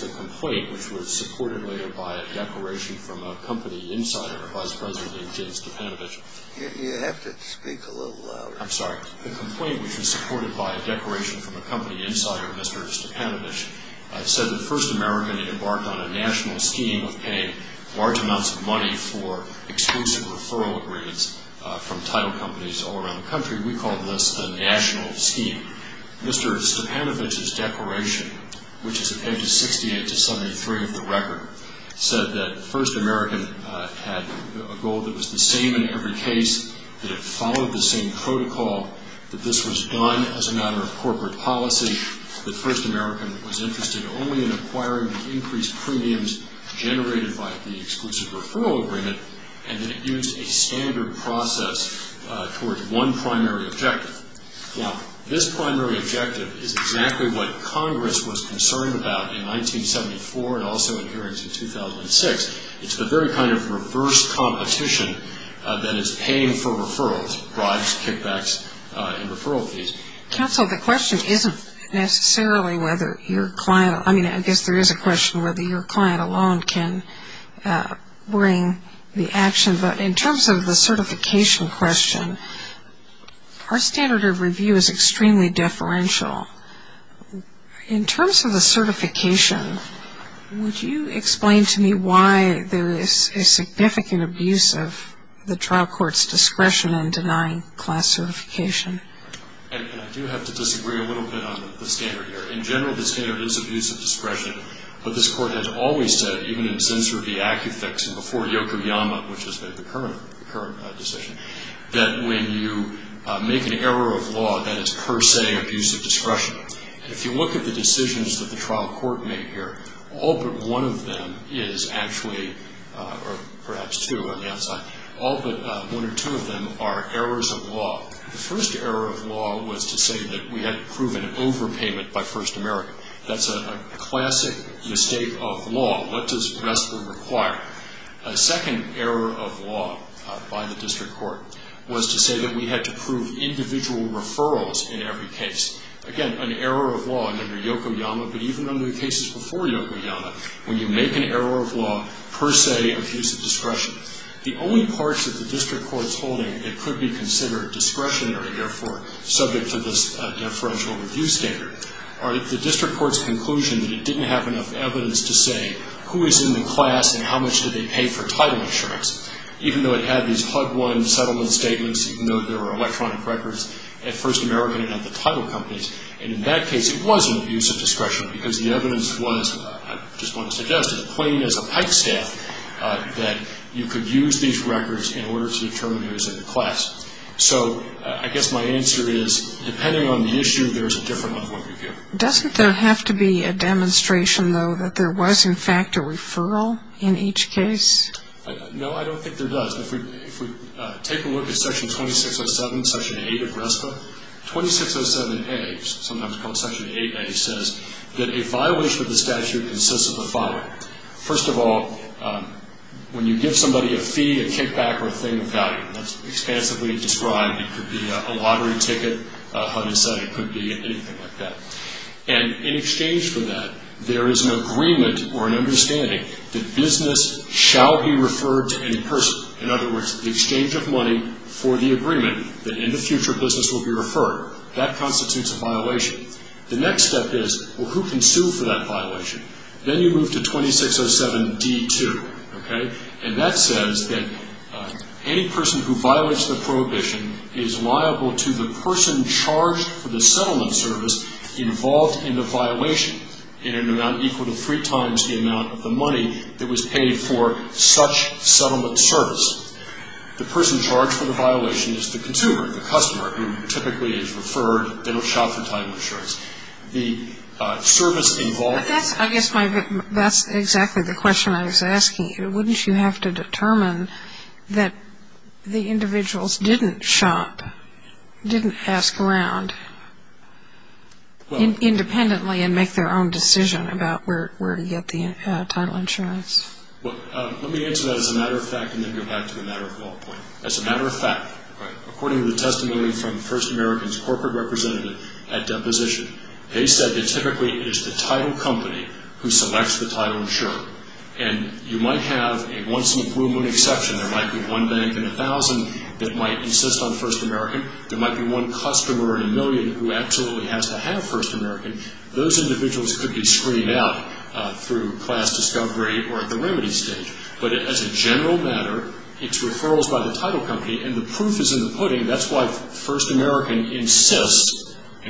The complaint which was supported by a declaration from a company insider, Mr. Stepanovich, said that First American had embarked on a national scheme of paying large amounts of money for exclusive referral agreements from title companies all around the country. We call this the national scheme. Mr. Stepanovich's declaration, which is pages 68 to 73 of the record, said that First American had a goal that was the same in every case, that it followed the same protocol, that this was done as a matter of corporate policy, that First American was interested only in acquiring the increased premiums generated by the exclusive referral agreement, and that it used a standard process towards one primary objective. Now, this primary objective is exactly what Congress was concerned about in 1974 and also in hearings in 2006. It's the very kind of reverse competition that is paying for referrals, bribes, kickbacks, and referral fees. Counsel, the question isn't necessarily whether your client, I mean, I guess there is a question whether your client alone can bring the action, but in terms of the certification question, our standard of review is extremely deferential. In terms of the certification, would you explain to me why there is a significant abuse of the trial court's discretion in denying class certification? I do have to disagree a little bit on the standard here. In general, the standard is abuse of discretion, but this Court has always said, even in Zinsser v. Acufix and before Yokoyama, which is the current decision, that when you make an error of law, that is per se abuse of discretion. If you look at the decisions that the trial court made here, all but one of them is actually, or perhaps two on the outside, all but one or two of them are errors of law. The first error of law was to say that we had to prove an overpayment by First America. That's a classic mistake of law. What does RESTWR require? A second error of law by the district court was to say that we had to prove individual referrals in every case. Again, an error of law under Yokoyama, but even under the cases before Yokoyama, when you make an error of law, per se abuse of discretion. The only parts of the district court's holding that could be considered discretionary, therefore subject to this deferential review standard, are the district court's conclusion that it didn't have enough evidence to say who is in the class and how much do they pay for title insurance, even though it had these HUD-1 settlement statements, even though there were electronic records at First America and at the title companies. In that case, it was an abuse of discretion because the evidence was, I just want to suggest, as plain as a pike staff, that you could use these records in order to determine who is in the class. So, I guess my answer is, depending on the issue, there is a different level of review. Doesn't there have to be a demonstration, though, that there was, in fact, a referral in each case? No, I don't think there does. If we take a look at Section 2607, Section 8 of RESTWR, 2607A, sometimes called Section 8A, says that a violation of the statute consists of the when you give somebody a fee, a kickback, or a thing of value. That's expansively described. It could be a lottery ticket, a HUD incentive, it could be anything like that. And in exchange for that, there is an agreement or an understanding that business shall be referred to in person. In other words, the exchange of money for the agreement that in the future business will be referred. That constitutes a violation. The next step is, well, who can sue for that violation? Then you move to 2607D2. And that says that any person who violates the prohibition is liable to the person charged for the settlement service involved in the violation in an amount equal to three times the amount of the money that was paid for such settlement service. The person charged for the violation is the person charged for the settlement service. The service involved in the violation is the person charged for the settlement service. But that's, I guess, my, that's exactly the question I was asking you. Wouldn't you have to determine that the individuals didn't shop, didn't ask around independently and make their own decision about where to get the title insurance? Well, let me answer that as a matter of fact and then go back to the matter of law point. As a matter of fact, according to the testimony from the First American's corporate representative at deposition, they said that typically it is the title company who selects the title insurer. And you might have a once in a blue moon exception. There might be one bank in a thousand that might insist on First American. There might be one customer in a million who absolutely has to have First American. Those individuals could be screened out through class discovery or at the remedy stage. But as a general matter, it's referrals by the title company. And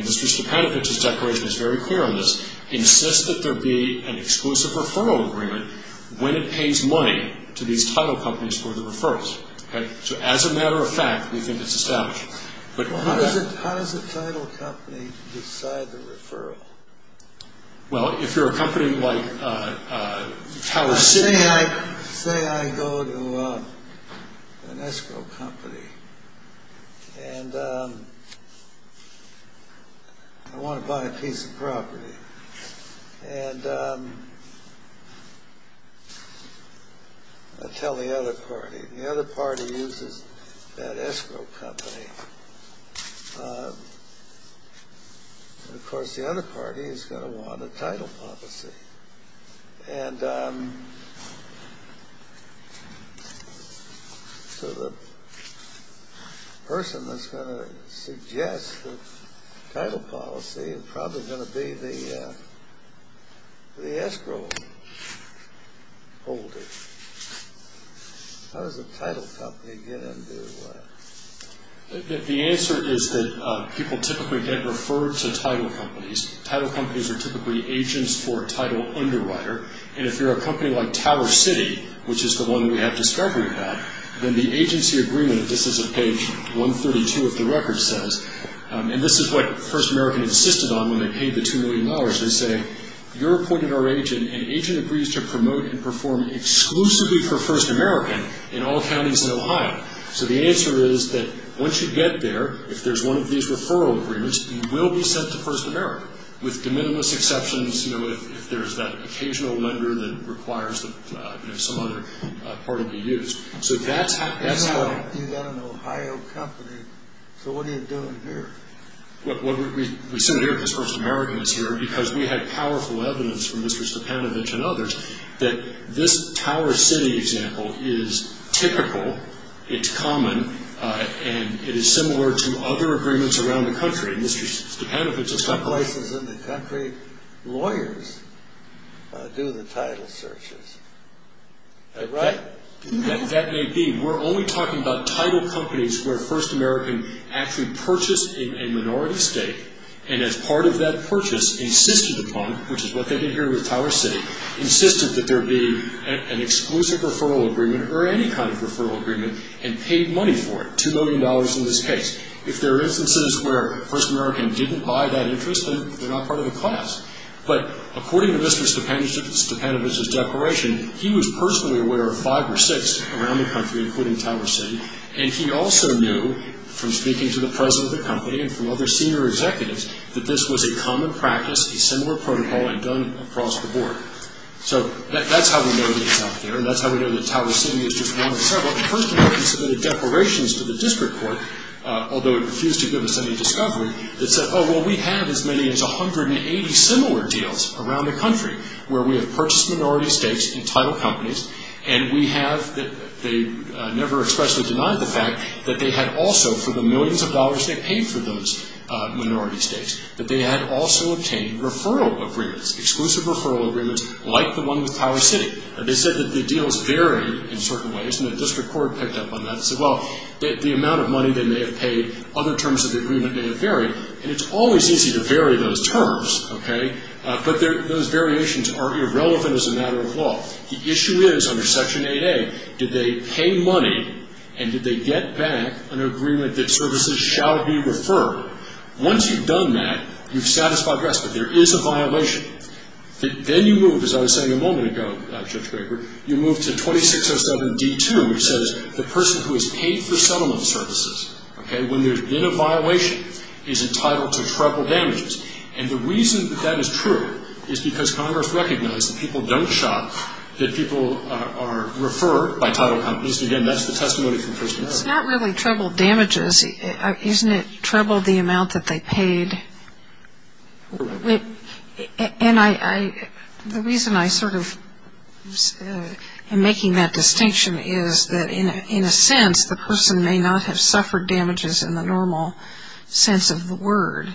Mr. Panovich's declaration is very clear on this. Insist that there be an exclusive referral agreement when it pays money to these title companies for the referrals. So as a matter of fact, we think it's established. How does a title company decide the referral? Well, if you're a company like Tower City... Say I go to an escrow company and I want to buy a piece of property and I tell the other party. The other party uses that escrow company. And of course the other party is going to decide on the title policy. And so the person that's going to suggest the title policy is probably going to be the escrow holder. How does a title company get into... The answer is that people typically get referred to title companies. Title companies are typically the agents for a title underwriter. And if you're a company like Tower City, which is the one we have discovery about, then the agency agreement, this is at page 132 of the record, says... And this is what First American insisted on when they paid the $2 million. They say, you're appointed our agent and agent agrees to promote and perform exclusively for First American in all counties in Ohio. So the answer is that once you get there, if there's one of these referral agreements, you will be sent to First American with de permissions if there's that occasional lender that requires that some other party be used. So that's how... You've got an Ohio company, so what are you doing here? We sent it here because First American was here because we had powerful evidence from Mr. Stepanovich and others that this Tower City example is typical, it's common, and it is similar to other agreements around the country. Mr. Stepanovich... Most places in the country, lawyers do the title searches. Right? That may be. We're only talking about title companies where First American actually purchased a minority state and as part of that purchase insisted upon, which is what they did here with Tower City, insisted that there be an exclusive referral agreement or any kind of referral agreement and paid money for it, $2 million in this case. If there are instances where First American didn't buy that interest, they're not part of the class. But according to Mr. Stepanovich's declaration, he was personally aware of five or six around the country, including Tower City, and he also knew from speaking to the president of the company and from other senior executives that this was a common practice, a similar protocol, and done across the board. So that's how we know that it's out there and that's how we know that Tower City is just one of several. First American submitted declarations to the district court, although it refused to give us any discovery, that said, oh, well, we have as many as 180 similar deals around the country where we have purchased minority states and title companies and we have, they never expressly denied the fact that they had also, for the millions of dollars they paid for those minority states, that they had also obtained referral agreements, exclusive referral agreements like the one with Tower City. They said that the deals vary in certain ways and the district court picked up on that and said, well, the amount of money they may have paid, other terms of the agreement may have varied. And it's always easy to vary those terms, okay, but those variations are irrelevant as a matter of law. The issue is under Section 8A, did they pay money and did they get back an agreement that services shall be referred? Once you've done that, you've satisfied the rest, but there is a violation. Then you move, as I was saying a moment ago, Judge Graber, you move to 2607D2, which says the person who has paid for settlement services, okay, when there's been a violation, is entitled to treble damages. And the reason that that is true is because Congress recognized that people don't shop, that people are referred by title companies. Again, that's the testimony from Kristen. It's not really treble damages. Isn't it treble the amount that they paid? Correct. And the reason I sort of am making that distinction is that in a sense, the person may not have suffered damages in the normal sense of the word,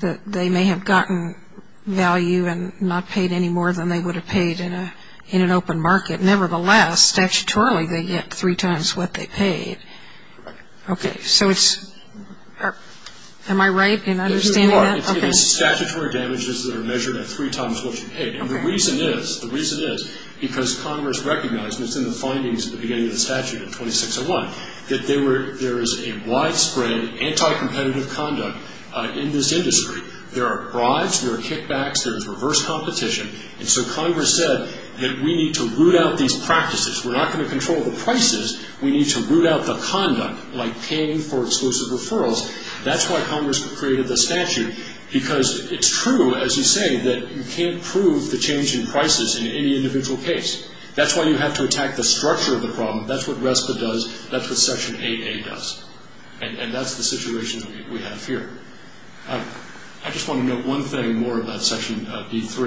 that they may have gotten value and not paid any more than they would have paid in an open market. Nevertheless, statutorily, they get three times what they paid. Okay, so it's – am I right in understanding that? It's statutory damages that are measured at three times what you paid. And the reason is, the reason is because Congress recognized, and it's in the findings at the beginning of the statute in 2601, that there is a widespread anti-competitive conduct in this industry. There are bribes. There are kickbacks. There is reverse competition. And so Congress said that we need to root out these practices. We're not going to control the prices. We need to root out the conduct, like paying for exclusive referrals. That's why Congress created the statute, because it's true, as you say, that you can't prove the change in prices in any individual case. That's why you have to attack the structure of the problem. That's what RESPA does. That's what Section 8A does. And that's the situation we have here. I just want to note one thing more about Section B3,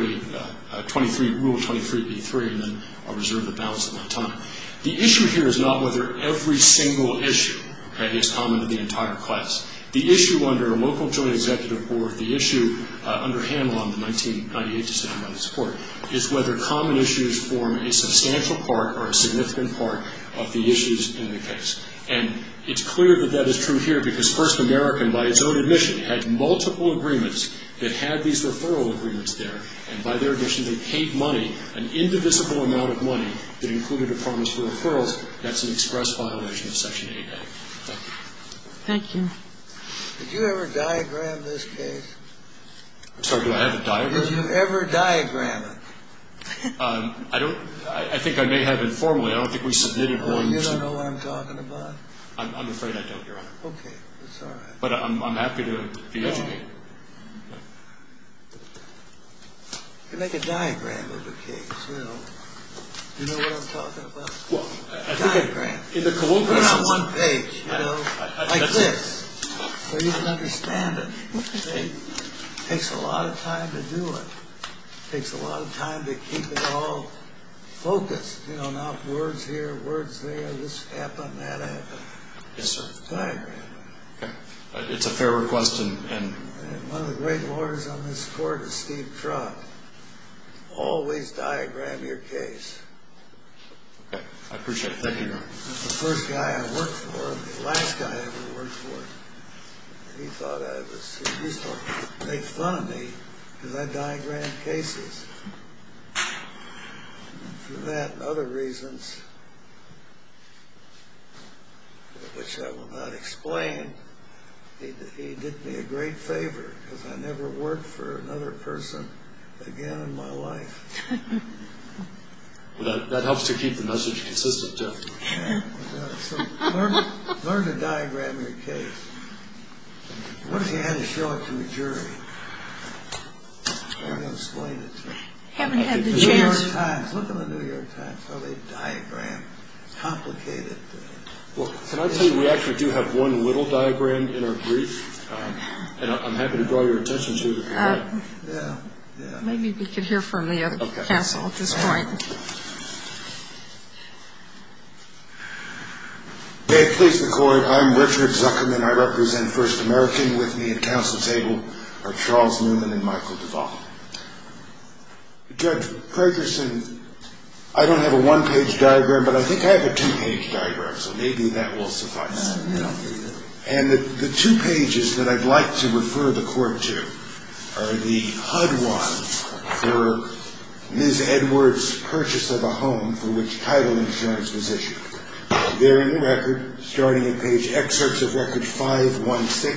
Rule 23B3, and then I'll reserve the balance of my time. The issue here is not whether every single issue is common to the entire class. The issue under a local joint executive board, the issue under Hanlon, the 1998 decision on the support, is whether common issues form a substantial part or a significant part of the issues in the case. And it's clear that that is true here, because First American, by its own admission, had multiple agreements that had these referral agreements there. And by their admission, they paid money, an indivisible amount of money, that included a promise for referrals. That's an express violation of Section 8A. Thank you. Thank you. Did you ever diagram this case? I'm sorry. Do I have a diagram? Did you ever diagram it? I don't. I think I may have informally. I don't think we submitted one. You don't know what I'm talking about? I'm afraid I don't, Your Honor. Okay. That's all right. But I'm happy to be educated. You can make a diagram of the case, you know. You know what I'm talking about? A diagram. Put it on one page, you know, like this, so you can understand it. It takes a lot of time to do it. It takes a lot of time to keep it all focused. You know, now words here, words there, this happened, that happened. Yes, sir. Diagram. It's a fair request. One of the great lawyers on this court is Steve Trott. Always diagram your case. Okay. I appreciate it. Thank you, Your Honor. The first guy I worked for, the last guy I ever worked for, he thought I was useful. He made fun of me because I diagrammed cases. For that and other reasons, which I will not explain, he did me a great favor, because I never worked for another person again in my life. That helps to keep the message consistent, too. Learn to diagram your case. What if you had to show it to a jury? I haven't explained it to them. Haven't had the chance. The New York Times, look at the New York Times. How they diagram complicated things. Well, can I tell you, we actually do have one little diagram in our brief, and I'm happy to draw your attention to it if you like. Yeah, yeah. Maybe we could hear from the other counsel at this point. May it please the Court, I'm Richard Zuckerman. I represent First American. With me at counsel's table are Charles Newman and Michael Duvall. Judge Ferguson, I don't have a one-page diagram, but I think I have a two-page diagram, so maybe that will suffice. And the two pages that I'd like to refer the Court to are the HUD one, for Ms. Edwards' purchase of a home for which title insurance was issued. They're in the record, starting at page excerpts of records 516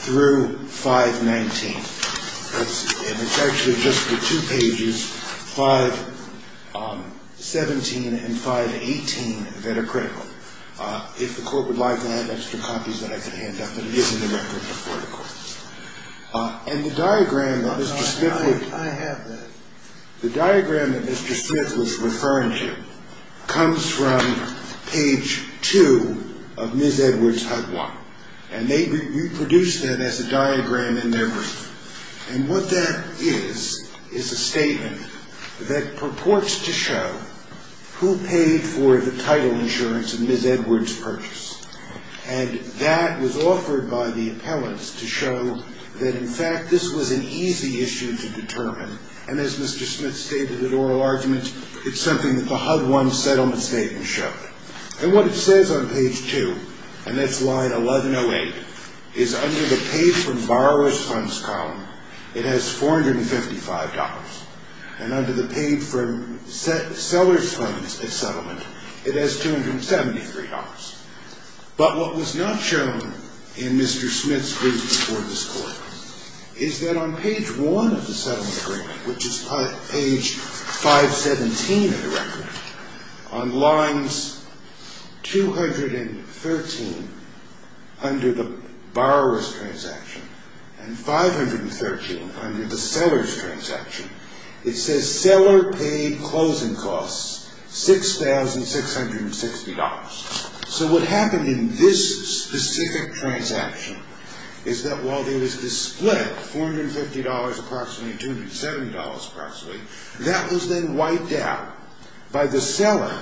through 519. And it's actually just the two pages, 517 and 518, that are critical. If the Court would like, I have extra copies that I can hand out, but it is in the record before the Court. And the diagram that Mr. Smith would... I have that. The diagram that Mr. Smith was referring to comes from page two of Ms. Edwards' HUD one, and they reproduced that as a diagram in their brief. And what that is is a statement that purports to show who paid for the title insurance of Ms. Edwards' purchase. And that was offered by the appellants to show that, in fact, this was an easy issue to determine, and as Mr. Smith stated in oral argument, it's something that the HUD one settlement statement showed. And what it says on page two, and that's line 1108, is under the paid from borrower's funds column, it has $455. And under the paid from seller's funds at settlement, it has $273. But what was not shown in Mr. Smith's brief before this Court is that on page one of the settlement agreement, which is page 517 of the record, on lines 213 under the borrower's transaction, and 513 under the seller's transaction, it says seller paid closing costs $6,660. So what happened in this specific transaction is that while there was a split, $450 approximately, $270 approximately, that was then wiped out by the seller,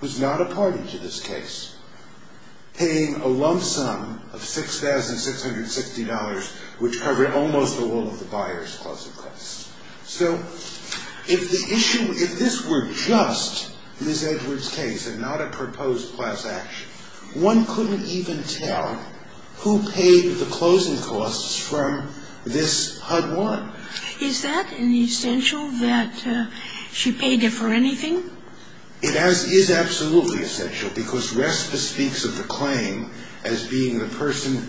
who's not a party to this case, paying a lump sum of $6,660, which covered almost all of the buyer's closing costs. So if the issue, if this were just Ms. Edwards' case and not a proposed class action, one couldn't even tell who paid the closing costs from this HUD one. Is that an essential that she paid it for anything? It is absolutely essential because RESPA speaks of the claim as being the person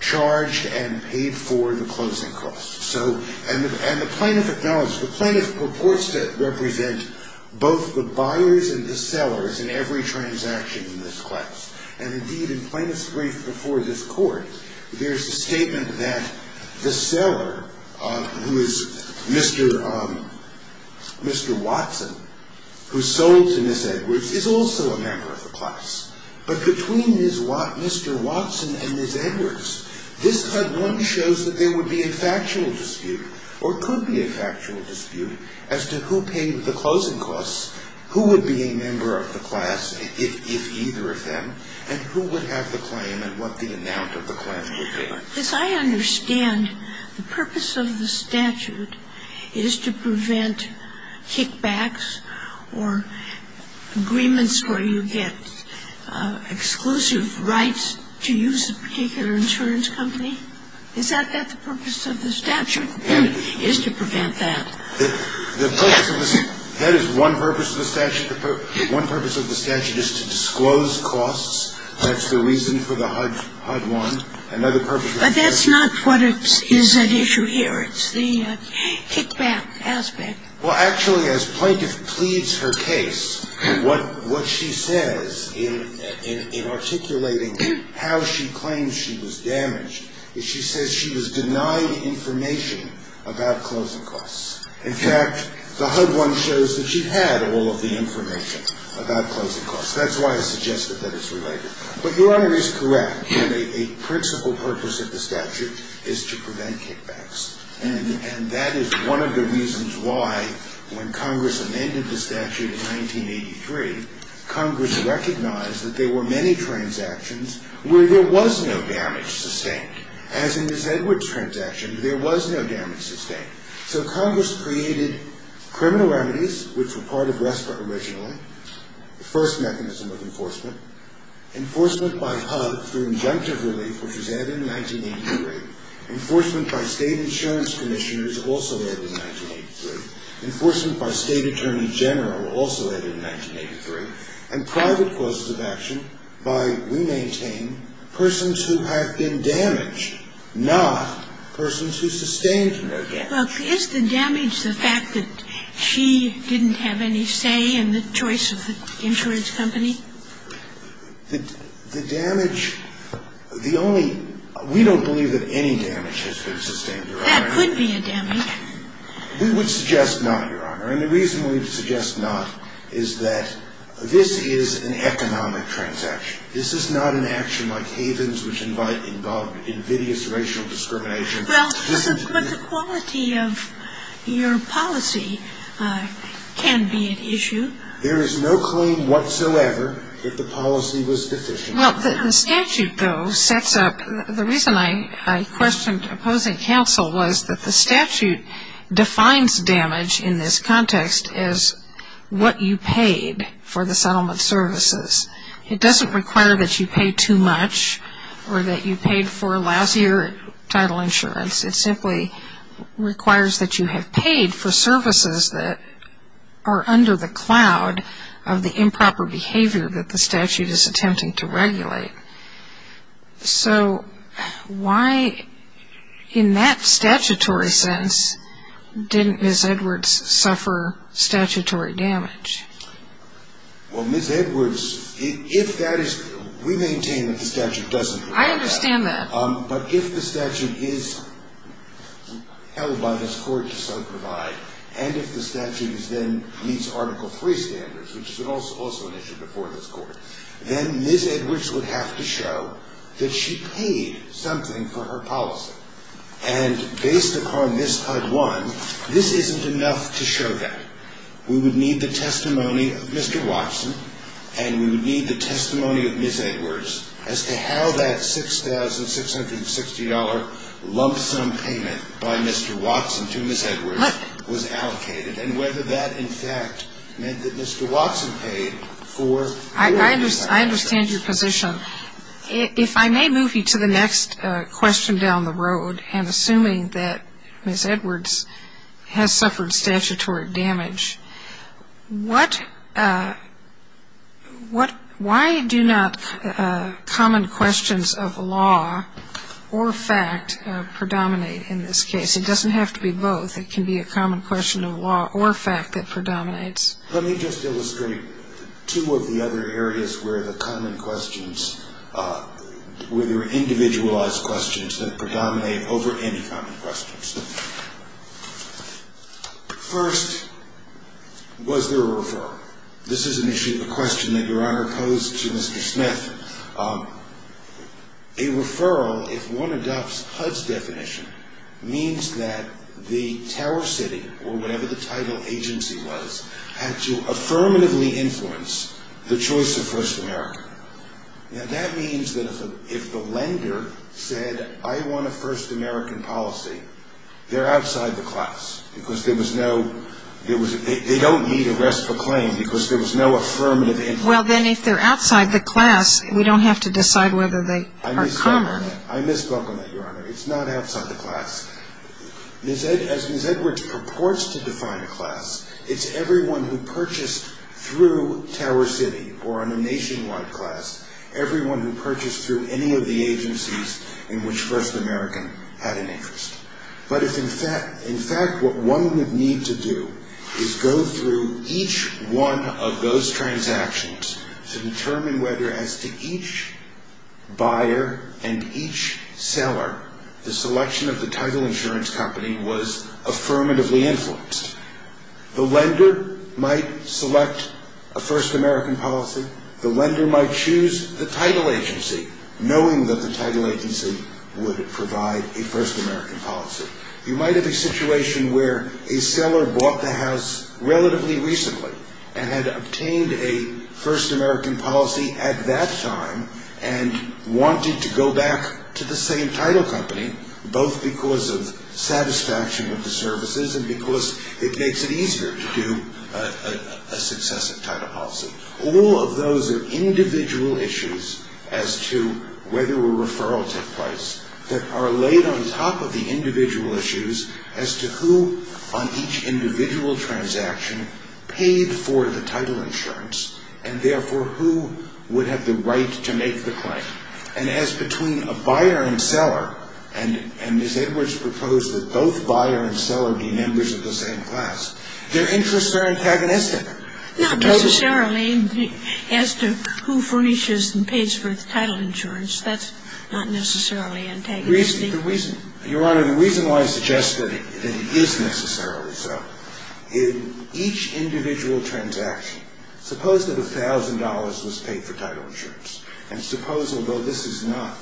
charged and paid for the closing costs. So, and the plaintiff acknowledges, the plaintiff purports to represent both the buyers and the sellers in every transaction in this class. And indeed, in plaintiff's brief before this court, there's a statement that the seller, who is Mr. Watson, who sold to Ms. Edwards, is also a member of the class. But between Mr. Watson and Ms. Edwards, this HUD one shows that there would be a factual dispute, or could be a factual dispute, as to who paid the closing costs, who would be a member of the class, if either of them, and who would have the claim and what the amount of the claim would be. As I understand, the purpose of the statute is to prevent kickbacks or agreements where you get exclusive rights to use a particular insurance company? Is that the purpose of the statute, is to prevent that? The purpose of the statute, that is one purpose of the statute. One purpose of the statute is to disclose costs. That's the reason for the HUD one. Another purpose of the statute. But that's not what is at issue here. It's the kickback aspect. Well, actually, as plaintiff pleads her case, what she says in articulating how she claims she was damaged, is she says she was denied information about closing costs. In fact, the HUD one shows that she had all of the information about closing costs. That's why I suggested that it's related. But Your Honor is correct. A principal purpose of the statute is to prevent kickbacks. And that is one of the reasons why, when Congress amended the statute in 1983, Congress recognized that there were many transactions where there was no damage sustained. As in Ms. Edwards' transaction, there was no damage sustained. So Congress created criminal remedies, which were part of RESPA originally, the first mechanism of enforcement. Enforcement by HUD through injunctive relief, which was added in 1983. Enforcement by state insurance commissioners, also added in 1983. Enforcement by state attorney general, also added in 1983. And private causes of action by, we maintain, persons who have been damaged, not persons who sustained no damage. Well, is the damage the fact that she didn't have any say in the choice of the insurance company? The damage, the only – we don't believe that any damage has been sustained, Your Honor. That could be a damage. We would suggest not, Your Honor. And the reason we would suggest not is that this is an economic transaction. This is not an action like havens which invite invidious racial discrimination. Well, but the quality of your policy can be at issue. There is no claim whatsoever that the policy was deficient. Well, the statute, though, sets up – the reason I questioned opposing counsel was that the statute defines damage in this context as what you paid for the settlement services. It doesn't require that you pay too much or that you paid for lousier title insurance. It simply requires that you have paid for services that are under the cloud of the improper behavior So why, in that statutory sense, didn't Ms. Edwards suffer statutory damage? Well, Ms. Edwards, if that is – we maintain that the statute doesn't provide that. I understand that. But if the statute is held by this court to some provide, and if the statute is then meets Article III standards, which is also an issue before this court, then Ms. Edwards would have to show that she paid something for her policy. And based upon this HUD-1, this isn't enough to show that. We would need the testimony of Mr. Watson and we would need the testimony of Ms. Edwards as to how that $6,660 lump sum payment by Mr. Watson to Ms. Edwards was allocated and whether that, in fact, meant that Mr. Watson paid for your policy. I understand your position. If I may move you to the next question down the road, and assuming that Ms. Edwards has suffered statutory damage, why do not common questions of law or fact predominate in this case? It doesn't have to be both. It can be a common question of law or fact that predominates. Let me just illustrate two of the other areas where the common questions, where there are individualized questions that predominate over any common questions. First, was there a referral? This is an issue, a question that Your Honor posed to Mr. Smith. A referral, if one adopts HUD's definition, means that the Tower City or whatever the title agency was had to affirmatively influence the choice of First American. Now, that means that if the lender said, I want a First American policy, they're outside the class because there was no, they don't need a restful claim because there was no affirmative influence. Well, then if they're outside the class, we don't have to decide whether they are common. I misspoke on that, Your Honor. It's not outside the class. As Ms. Edwards purports to define a class, it's everyone who purchased through Tower City or on a nationwide class, everyone who purchased through any of the agencies in which First American had an interest. But if in fact what one would need to do is go through each one of those transactions to determine whether as to each buyer and each seller, the selection of the title insurance company was affirmatively influenced. The lender might select a First American policy. The lender might choose the title agency, knowing that the title agency would provide a First American policy. You might have a situation where a seller bought the house relatively recently and had obtained a First American policy at that time and wanted to go back to the same title company, both because of satisfaction of the services and because it makes it easier to do a successive title policy. All of those are individual issues as to whether a referral took place that are laid on top of the individual issues as to who on each individual transaction paid for the title insurance and therefore who would have the right to make the claim. And as between a buyer and seller, and Ms. Edwards proposed that both buyer and seller be members of the same class, their interests are antagonistic. The reason why I suggest that it is necessarily so, in each individual transaction, suppose that $1,000 was paid for title insurance. And suppose, although this is not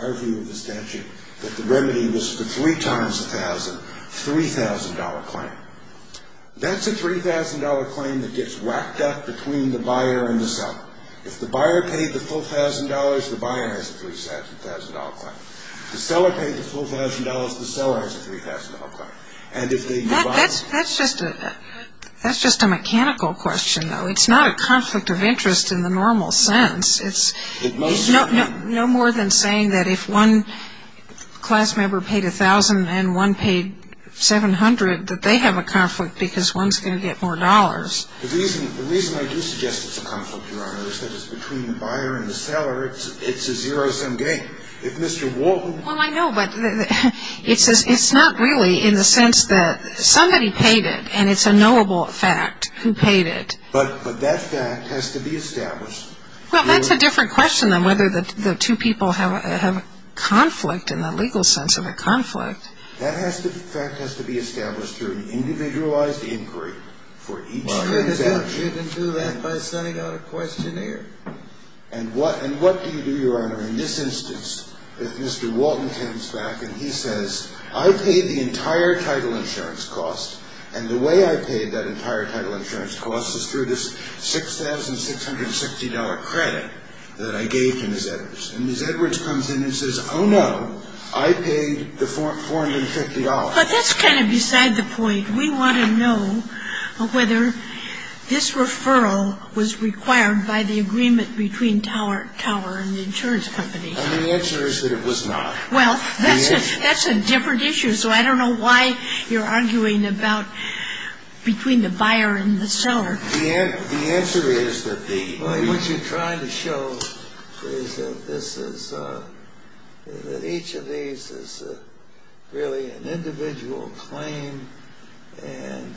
our view of the statute, that the remedy was for three times $1,000, $3,000 claim. It gets whacked up between the buyer and the seller. If the buyer paid the full $1,000, the buyer has a $3,000 claim. If the seller paid the full $1,000, the seller has a $3,000 claim. That's just a mechanical question, though. It's not a conflict of interest in the normal sense. It's no more than saying that if one class member paid $1,000 and one paid $700, that they have a conflict because one's going to get more dollars. The reason I do suggest it's a conflict, Your Honor, is that it's between the buyer and the seller. It's a zero-sum game. If Mr. Walton... Well, I know, but it's not really in the sense that somebody paid it, and it's a knowable fact who paid it. But that fact has to be established. Well, that's a different question than whether the two people have a conflict in the legal sense of a conflict. That fact has to be established through an individualized inquiry for each transaction. Well, you can do that by sending out a questionnaire. And what do you do, Your Honor, in this instance, if Mr. Walton comes back and he says, I paid the entire title insurance cost, and the way I paid that entire title insurance cost is through this $6,660 credit that I gave to Ms. Edwards. And Ms. Edwards comes in and says, oh, no, I paid the $450. But that's kind of beside the point. We want to know whether this referral was required by the agreement between Tower and the insurance company. And the answer is that it was not. Well, that's a different issue, so I don't know why you're arguing about between the buyer and the seller. The answer is that the— Well, what you're trying to show is that this is—that each of these is really an individual claim and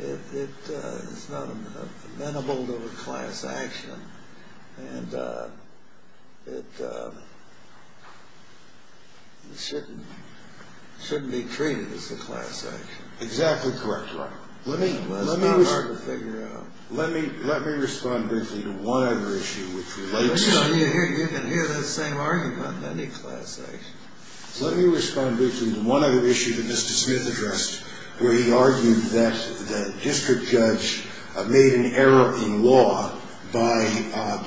it is not amenable to a class action. And it shouldn't be treated as a class action. Exactly correct, Your Honor. Well, it's not hard to figure out. Let me respond briefly to one other issue, which relates— You can hear that same argument on any class action. Let me respond briefly to one other issue that Mr. Smith addressed, where he argued that the district judge made an error in law by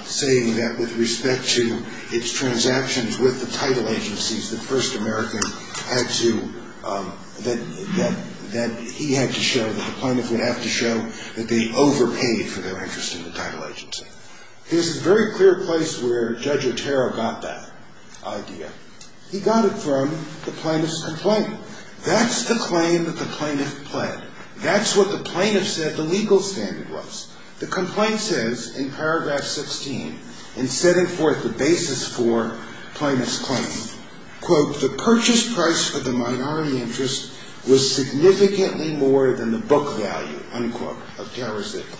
saying that with respect to its transactions with the title agencies, that First American had to—that he had to show, that the plaintiff would have to show that they overpaid for their interest in the title agency. There's a very clear place where Judge Otero got that idea. He got it from the plaintiff's complaint. That's the claim that the plaintiff pled. That's what the plaintiff said the legal standard was. The complaint says in paragraph 16, in setting forth the basis for plaintiff's claim, quote, the purchase price for the minority interest was significantly more than the book value, unquote, of Tara Zittler.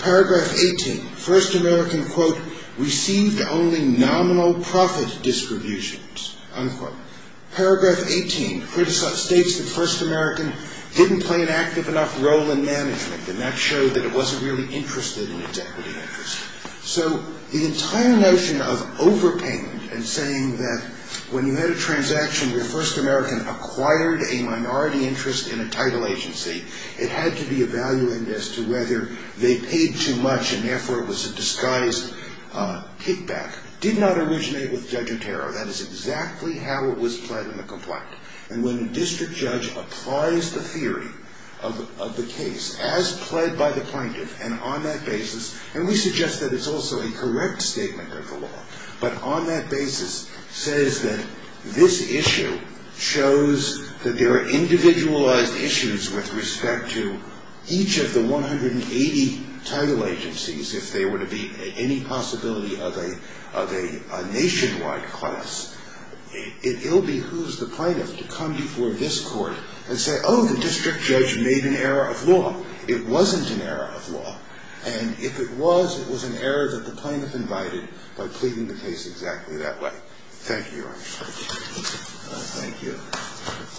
Paragraph 18, First American, quote, received only nominal profit distributions, unquote. Paragraph 18 states that First American didn't play an active enough role in management and that showed that it wasn't really interested in its equity interest. So the entire notion of overpayment and saying that when you had a transaction where First American acquired a minority interest in a title agency, it had to be evaluated as to whether they paid too much and therefore it was a disguised kickback, did not originate with Judge Otero. That is exactly how it was pled in the complaint. And when a district judge applies the theory of the case as pled by the plaintiff and on that basis, and we suggest that it's also a correct statement of the law, but on that basis says that this issue shows that there are individualized issues with respect to each of the 180 title agencies, if there were to be any possibility of a nationwide class, it will behoove the plaintiff to come before this Court and say, oh, the district judge made an error of law. It wasn't an error of law. And if it was, it was an error that the plaintiff invited by pleading the case exactly that way. Thank you, Your Honor. Thank you.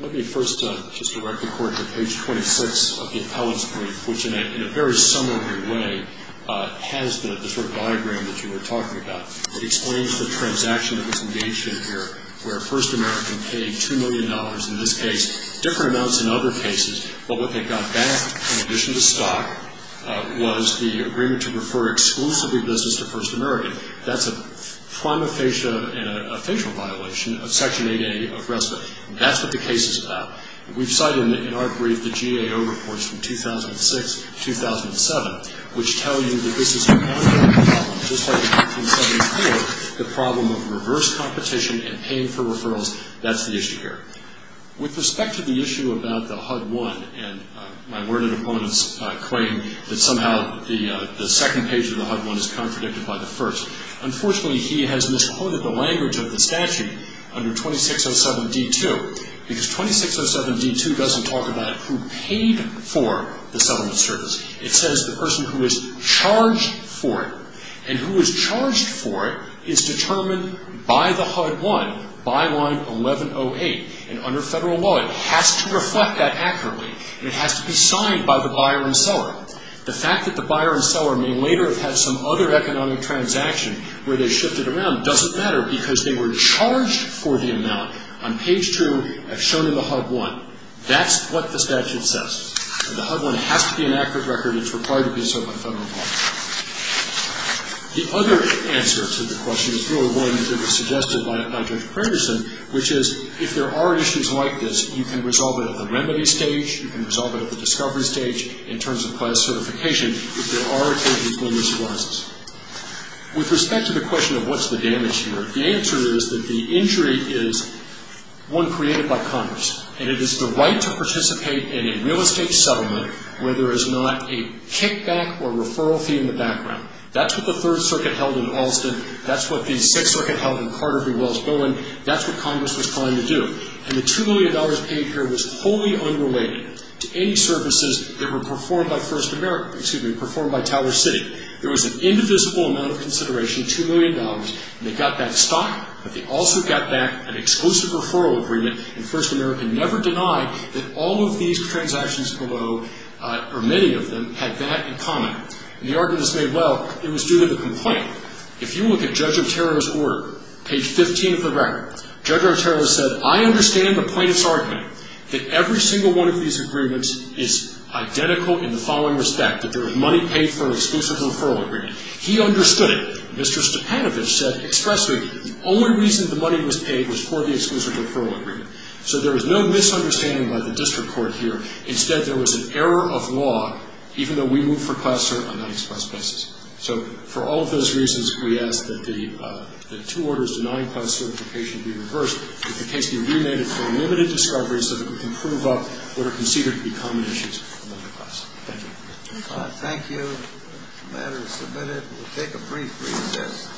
Let me first just direct the Court to page 26 of the appellate's brief, which in a very summary way has the sort of diagram that you were talking about. It explains the transaction that was engaged in here where First American paid $2 million in this case, different amounts in other cases, but what they got back in addition to stock was the agreement to refer exclusively business to First American. That's a prima facie and a facial violation of Section 8A of RESPA. That's what the case is about. We've cited in our brief the GAO reports from 2006, 2007, which tell you that this is an ongoing problem just like in 1974, the problem of reverse competition and paying for referrals. That's the issue here. With respect to the issue about the HUD-1 and my worded opponent's claim that somehow the second page of the HUD-1 is contradicted by the first, unfortunately he has misquoted the language of the statute under 2607d-2 because 2607d-2 doesn't talk about who paid for the settlement service. It says the person who is charged for it. And who is charged for it is determined by the HUD-1 by line 1108. And under federal law it has to reflect that accurately and it has to be signed by the buyer and seller. The fact that the buyer and seller may later have had some other economic transaction where they shifted around doesn't matter because they were charged for the amount on page 2 as shown in the HUD-1. That's what the statute says. The HUD-1 has to be an accurate record. It's required to be so by federal law. The other answer to the question is really one that was suggested by Judge Pranderson, which is if there are issues like this, you can resolve it at the remedy stage, you can resolve it at the discovery stage in terms of class certification if there are changes when this arises. With respect to the question of what's the damage here, the answer is that the injury is one created by Congress. And it is the right to participate in a real estate settlement where there is not a kickback or referral fee in the background. That's what the Third Circuit held in Alston. That's what the Sixth Circuit held in Carter v. Wells-Bowen. That's what Congress was trying to do. And the $2 million paid here was wholly unrelated to any services that were performed by First America, excuse me, performed by Tower City. There was an indivisible amount of consideration, $2 million, and they got that stock, but they also got back an exclusive referral agreement, and First America never denied that all of these transactions below or many of them had that in common. And the argument is made, well, it was due to the complaint. If you look at Judge Otero's order, page 15 of the record, Judge Otero said, I understand the plaintiff's argument that every single one of these agreements is identical in the following respect, that there was money paid for an exclusive referral agreement. He understood it. Mr. Stepanovich said, expressly, the only reason the money was paid was for the exclusive referral agreement. So there was no misunderstanding by the district court here. Instead, there was an error of law, even though we moved for class cert on an unexpressed basis. So for all of those reasons, we ask that the two orders denying class certification be reversed. If the case be remanded for unlimited discovery so that we can prove up what are considered to be common issues among the class. Thank you. Thank you. The matter is submitted. We'll take a brief recess.